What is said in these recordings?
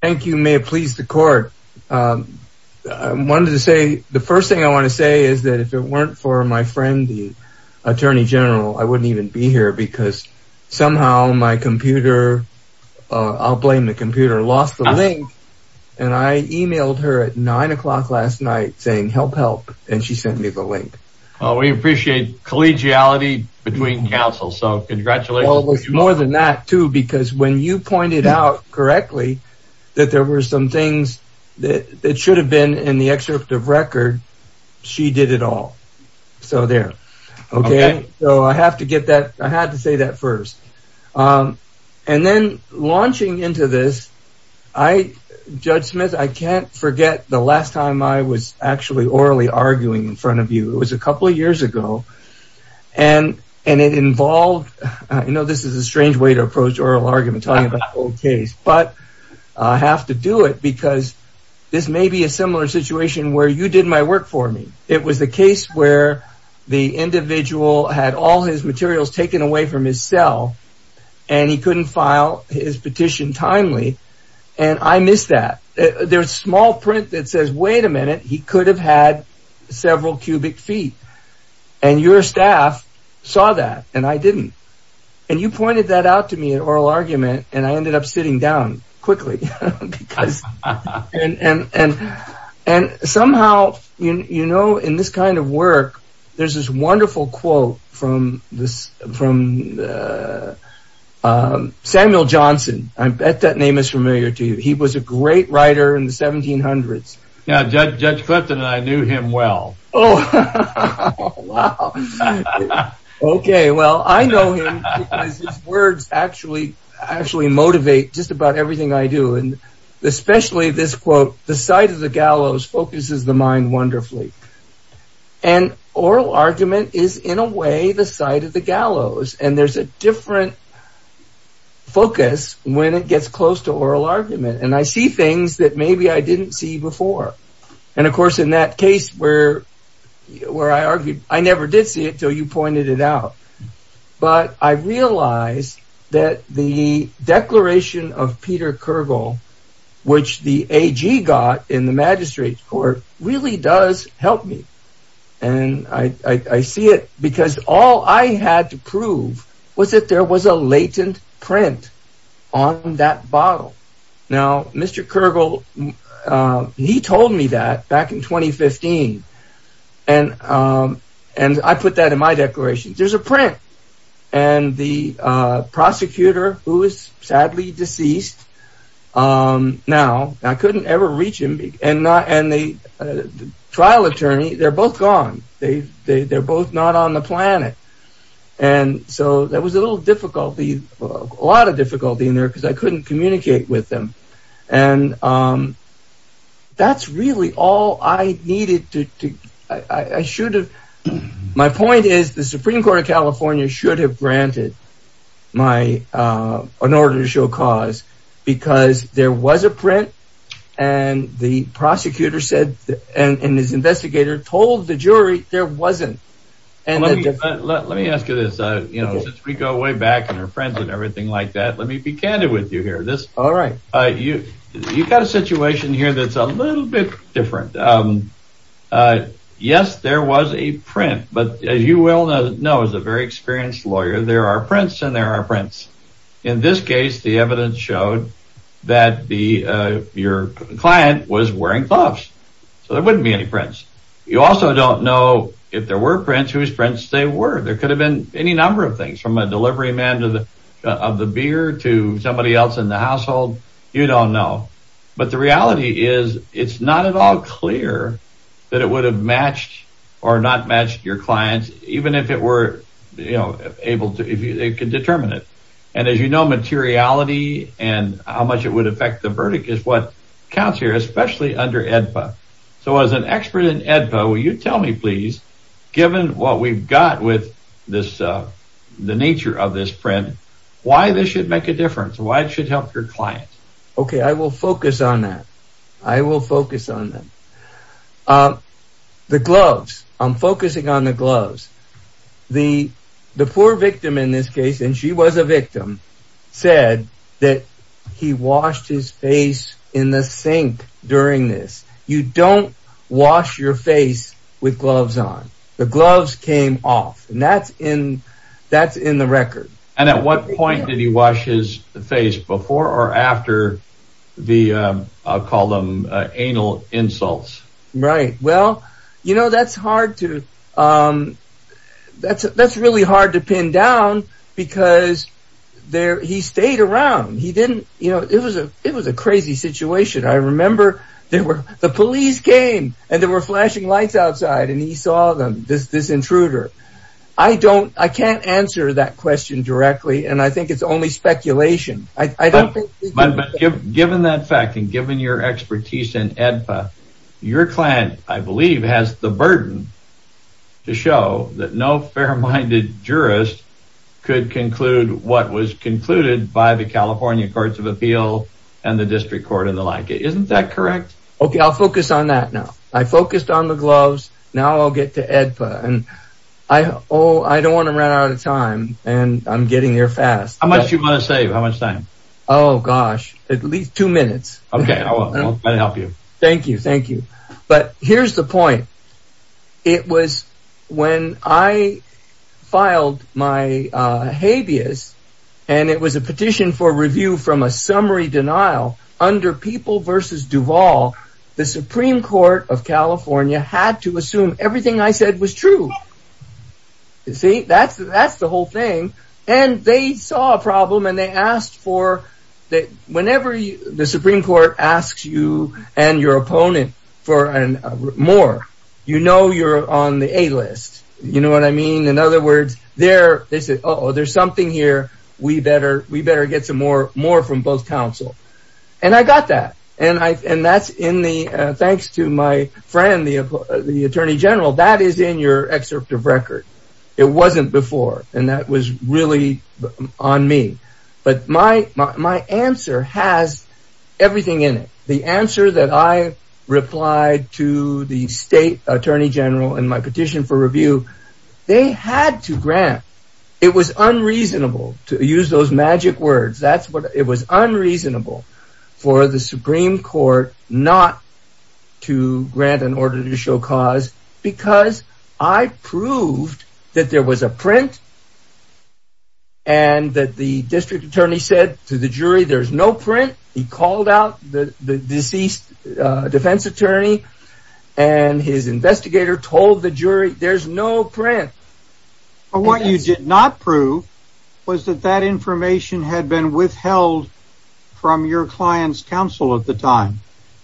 thank you may it please the court I wanted to say the first thing I want to say is that if it weren't for my friend the Attorney General I wouldn't even be here because somehow my computer I'll blame the computer lost the link and I emailed her at nine o'clock last night saying help help and she sent me the link oh we appreciate collegiality between counsel so congratulations more than that too because when you pointed out correctly that there were some things that it should have been in the excerpt of record she did it all so there okay so I have to get that I had to say that first and then launching into this I judge Smith I can't forget the last time I was actually orally arguing in front of you it was a couple of years ago and and it involved you know this is a strange way to approach oral argument talking about old case but I have to do it because this may be a similar situation where you did my work for me it was the case where the individual had all his materials taken away from his cell and he couldn't file his petition timely and I missed that there's small print that says wait a minute he could have had several cubic feet and your staff saw that and I didn't and you pointed that out to me at oral argument and I ended up sitting down quickly and and and somehow you know in this kind of work there's this wonderful quote from this from Samuel Johnson I bet that name is familiar to you he was a great writer in the 1700s yeah judge judge Clifton and I knew him well oh okay well I know words actually actually motivate just about everything I do and especially this quote the sight of the gallows focuses the mind wonderfully and oral argument is in a way the sight of the gallows and there's a different focus when it gets close to and of course in that case where where I argued I never did see it till you pointed it out but I realized that the declaration of Peter Kergel which the AG got in the magistrate court really does help me and I see it because all I had to prove was that there was a latent print on that bottle now mr. Kergel he told me that back in 2015 and and I put that in my declaration there's a print and the prosecutor who is sadly deceased now I couldn't ever reach him and not and the trial attorney they're both gone they they're both not on the planet and so there was a little difficulty a lot of difficulty in there because I really all I needed to I should have my point is the Supreme Court of California should have granted my an order to show cause because there was a print and the prosecutor said and his investigator told the jury there wasn't and let me ask you this you know we go way back and her friends and everything like that let me be candid with you here this all right you you got a situation here that's a little bit different yes there was a print but as you well know is a very experienced lawyer there are prints and there are prints in this case the evidence showed that the your client was wearing gloves so there wouldn't be any prints you also don't know if there were prints whose prints they were there could have been any number of things from a delivery man to the of the beer to somebody else in the household you don't know but the reality is it's not at all clear that it would have matched or not matched your clients even if it were you know able to if you they could determine it and as you know materiality and how much it would affect the verdict is what counts here especially under AEDPA so as an expert in AEDPA will you tell me please given what we've got with this the nature of this print why this should make a difference why it should help your client okay I will focus on that I will focus on them the gloves I'm focusing on the gloves the the poor victim in this case and she was a victim said that he washed his face in the sink during this you don't wash your face with gloves on the gloves came off and that's in that's in the record and at what point did he wash his face before or after the I'll call them anal insults right well you know that's hard to that's that's really hard to pin down because there he stayed around he didn't you know it was a it was a crazy situation I remember there were the police came and there were flashing lights outside and he saw them this this intruder I don't I can't answer that question directly and I think it's only speculation I don't think given that fact and given your expertise in AEDPA your client I believe has the burden to show that no fair-minded jurist could conclude what was concluded by the California Courts of Appeal and the District Court and the like it isn't that correct okay I'll focus on that now I focused on the gloves now I'll get to AEDPA and I oh I don't want to run out of time and I'm getting here fast how much you want to save how much time oh gosh at least two minutes okay I'll help you thank you thank you but here's the point it was when I filed my habeas and it was a petition for review from a summary denial under people versus Duvall the Supreme Court of California had to assume everything I said was true you see that's that's the whole thing and they saw a problem and they asked for that whenever the Supreme Court asks you and your opponent for an more you know you're on the a-list you know what I mean in other words there they said oh there's something here we better we better get some more more from both counsel and I got that and I and that's in the thanks to my friend the Attorney General that is in your excerpt of record it wasn't before and that was really on me but my my answer has everything in it the answer that I replied to the state Attorney General and my petition for review they had to reasonable to use those magic words that's what it was unreasonable for the Supreme Court not to grant an order to show cause because I proved that there was a print and that the district attorney said to the jury there's no print he called out the deceased defense attorney and his investigator told the was that that information had been withheld from your clients counsel at the time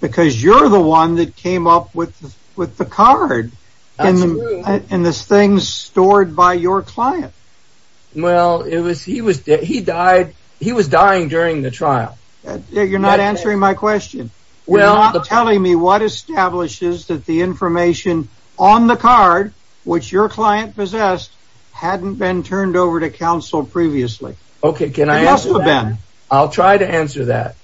because you're the one that came up with with the card and this thing's stored by your client well it was he was dead he died he was dying during the trial you're not answering my question well I'm telling me what establishes that the information on the card which your client possessed hadn't been turned over to counsel previously okay can I ask them I'll try to answer that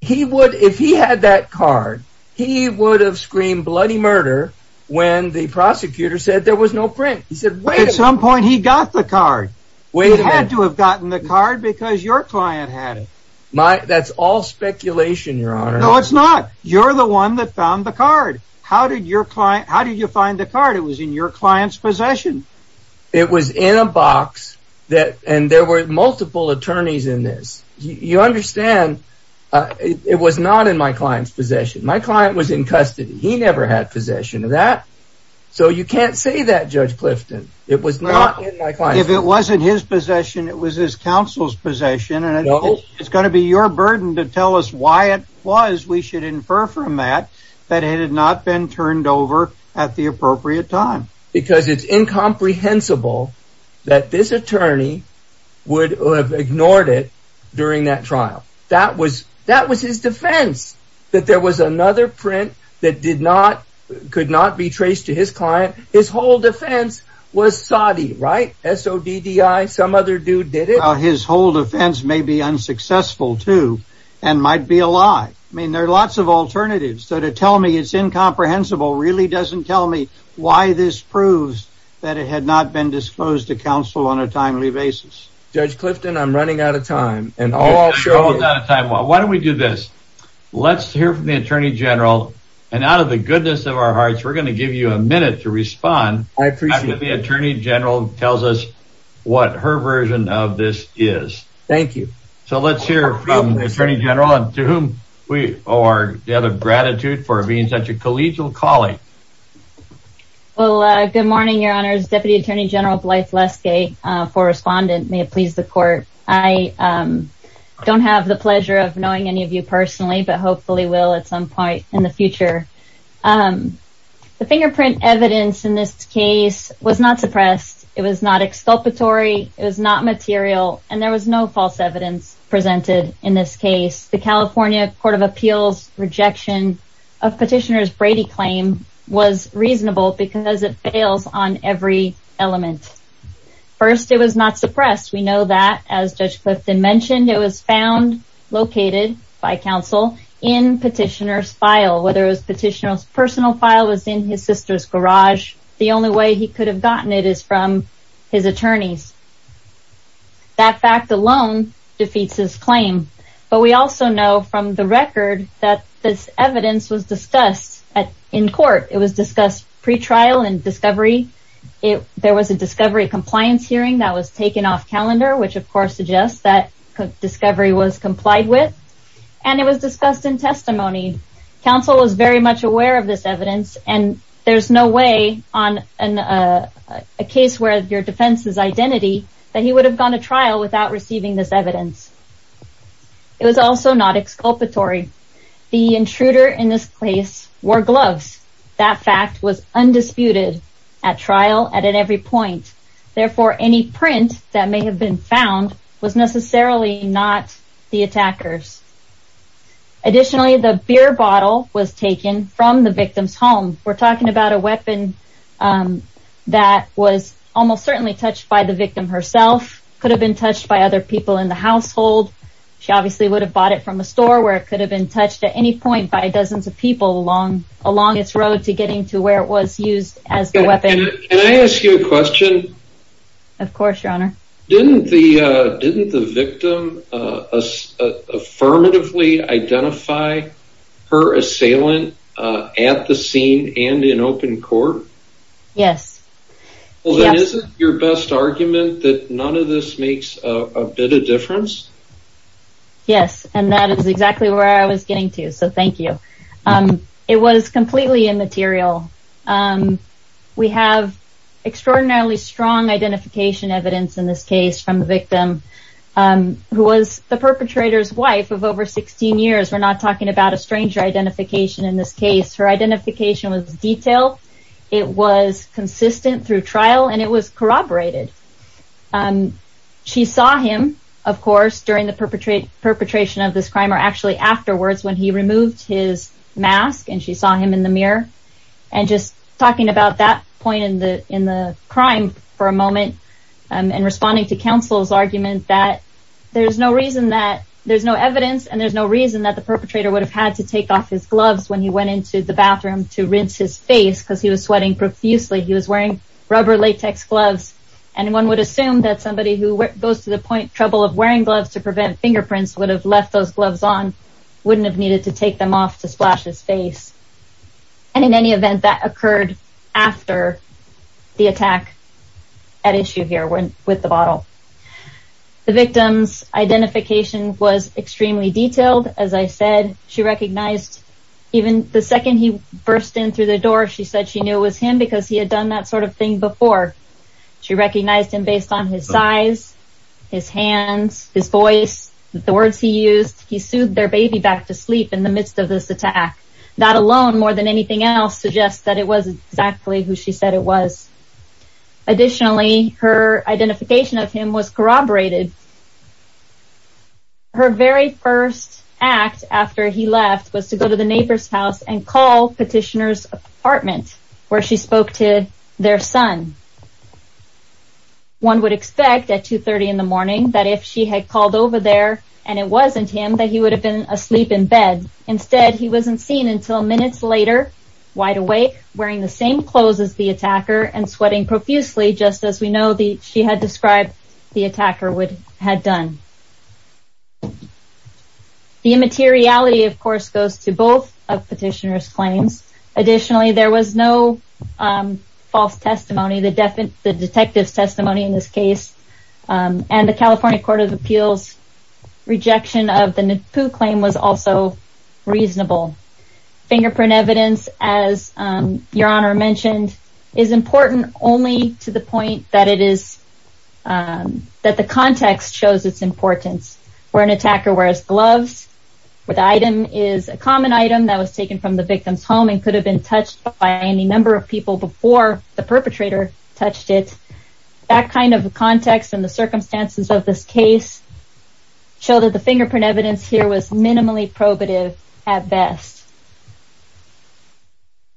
he would if he had that card he would have screamed bloody murder when the prosecutor said there was no print he said wait at some point he got the card we had to have gotten the card because your client had it my that's all speculation your honor no it's not you're the one that found the card how did your client how did you find the card it was in your client's possession it was in a box that and there were multiple attorneys in this you understand it was not in my client's possession my client was in custody he never had possession of that so you can't say that judge Clifton it was not if it wasn't his possession it was his counsel's possession and I know it's going to be your burden to tell us why it was we should infer from that that it had not been turned over at the appropriate time because it's incomprehensible that this attorney would have ignored it during that trial that was that was his defense that there was another print that did not could not be traced to his client his whole defense was Saudi right so DDI some other dude did it his whole defense may be unsuccessful too and might be a lie I mean there are lots of alternatives so to tell me it's incomprehensible really doesn't tell me why this proves that it had not been disclosed to counsel on a timely basis judge Clifton I'm running out of time and all shows out of time well why don't we do this let's hear from the Attorney General and out of the goodness of our hearts we're going to give you a minute to respond I appreciate the Attorney General tells us what her version of this is thank you so let's hear from the Attorney General and to whom we are the other gratitude for being such a collegial colleague well good morning Your Honor's Deputy Attorney General Blythe Leskay for respondent may it please the court I don't have the pleasure of knowing any of you personally but hopefully will at some point in the future the fingerprint evidence in this case was not suppressed it was not exculpatory it was not material and there was no false evidence presented in this case the California Court of Appeals rejection of petitioners Brady claim was reasonable because it fails on every element first it was not suppressed we know that as Judge Clifton mentioned it was found located by counsel in petitioners file whether it was petitioners personal file was in his sister's garage the only way he could have gotten it is from his claim but we also know from the record that this evidence was discussed at in court it was discussed pretrial and discovery it there was a discovery compliance hearing that was taken off calendar which of course suggests that discovery was complied with and it was discussed in testimony counsel was very much aware of this evidence and there's no way on a case where your defense is evidence it was also not exculpatory the intruder in this place were gloves that fact was undisputed at trial at every point therefore any print that may have been found was necessarily not the attackers additionally the beer bottle was taken from the victim's home we're talking about a weapon that was almost certainly touched by the victim herself could have been touched by other people in the household she obviously would have bought it from a store where it could have been touched at any point by dozens of people along along its road to getting to where it was used as the weapon and I ask you a question of course your honor didn't the didn't the victim affirmatively identify her assailant at the scene and in open court yes well that isn't your best argument that none of this makes a difference yes and that is exactly where I was getting to so thank you it was completely immaterial we have extraordinarily strong identification evidence in this case from the victim who was the perpetrator's wife of over 16 years we're not talking about a stranger identification in this case her identification was detailed it was she saw him of course during the perpetrate perpetration of this crime or actually afterwards when he removed his mask and she saw him in the mirror and just talking about that point in the in the crime for a moment and responding to counsel's argument that there's no reason that there's no evidence and there's no reason that the perpetrator would have had to take off his gloves when he went into the bathroom to rinse his face because he was sweating profusely he was wearing rubber latex gloves and one would assume that somebody who goes to the point trouble of wearing gloves to prevent fingerprints would have left those gloves on wouldn't have needed to take them off to splash his face and in any event that occurred after the attack at issue here when with the bottle the victim's identification was extremely detailed as I said she recognized even the second he burst in through the door she said she knew it was him because he had done that sort of thing before she recognized him based on his size his hands his voice the words he used he sued their baby back to sleep in the midst of this attack that alone more than anything else suggests that it was exactly who she said it was additionally her identification of him was corroborated her very first act after he left was to go to the neighbor's house and call petitioners apartment where she one would expect at 230 in the morning that if she had called over there and it wasn't him that he would have been asleep in bed instead he wasn't seen until minutes later wide awake wearing the same clothes as the attacker and sweating profusely just as we know the she had described the attacker would had done the immateriality of course goes to both of petitioners claims additionally there was no false testimony the definite the detective's testimony in this case and the California Court of Appeals rejection of the Nippu claim was also reasonable fingerprint evidence as your honor mentioned is important only to the point that it is that the context shows its importance where an attacker wears gloves with item is a common item that was taken from the victim's home and could have been touched by any number of people before the perpetrator touched it that kind of context and the circumstances of this case show that the fingerprint evidence here was minimally probative at best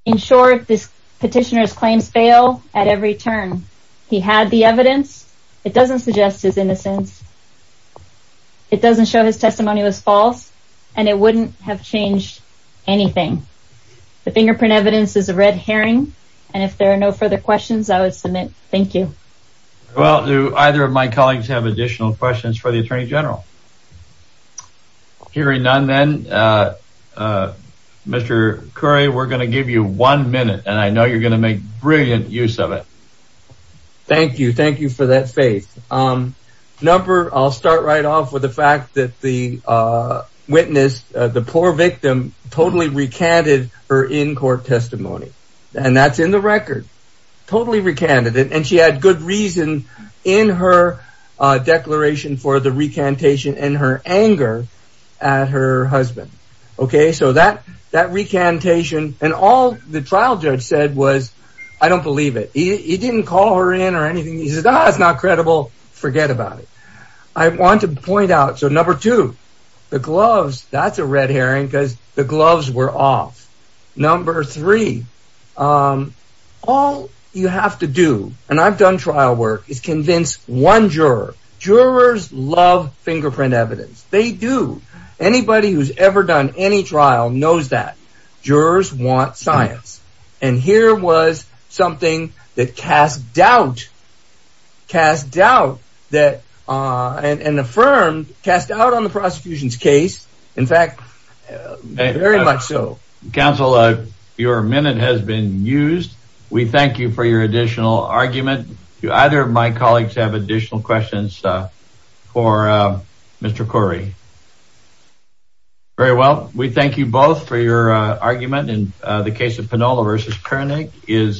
in short this petitioners claims fail at every turn he had the evidence it doesn't suggest his innocence it doesn't show his testimony was false and it wouldn't have changed anything the fingerprint evidence is a red herring and if there are no further questions I would submit thank you well do either of my colleagues have additional questions for the Attorney General hearing none then mr. Curry we're gonna give you one minute and I know you're gonna make brilliant use of it thank you thank you for that faith um number I'll start right off with the witness the poor victim totally recanted her in-court testimony and that's in the record totally recanted it and she had good reason in her declaration for the recantation and her anger at her husband okay so that that recantation and all the trial judge said was I don't believe it he didn't call her in or anything he the gloves that's a red herring because the gloves were off number three all you have to do and I've done trial work is convince one juror jurors love fingerprint evidence they do anybody who's ever done any trial knows that jurors want science and here was something that cast doubt cast doubt that and affirmed cast out on the prosecution's case in fact very much so counselor your minute has been used we thank you for your additional argument you either of my colleagues have additional questions for mr. Corey very well we thank you both for your argument in the case of panola vs. Koenig is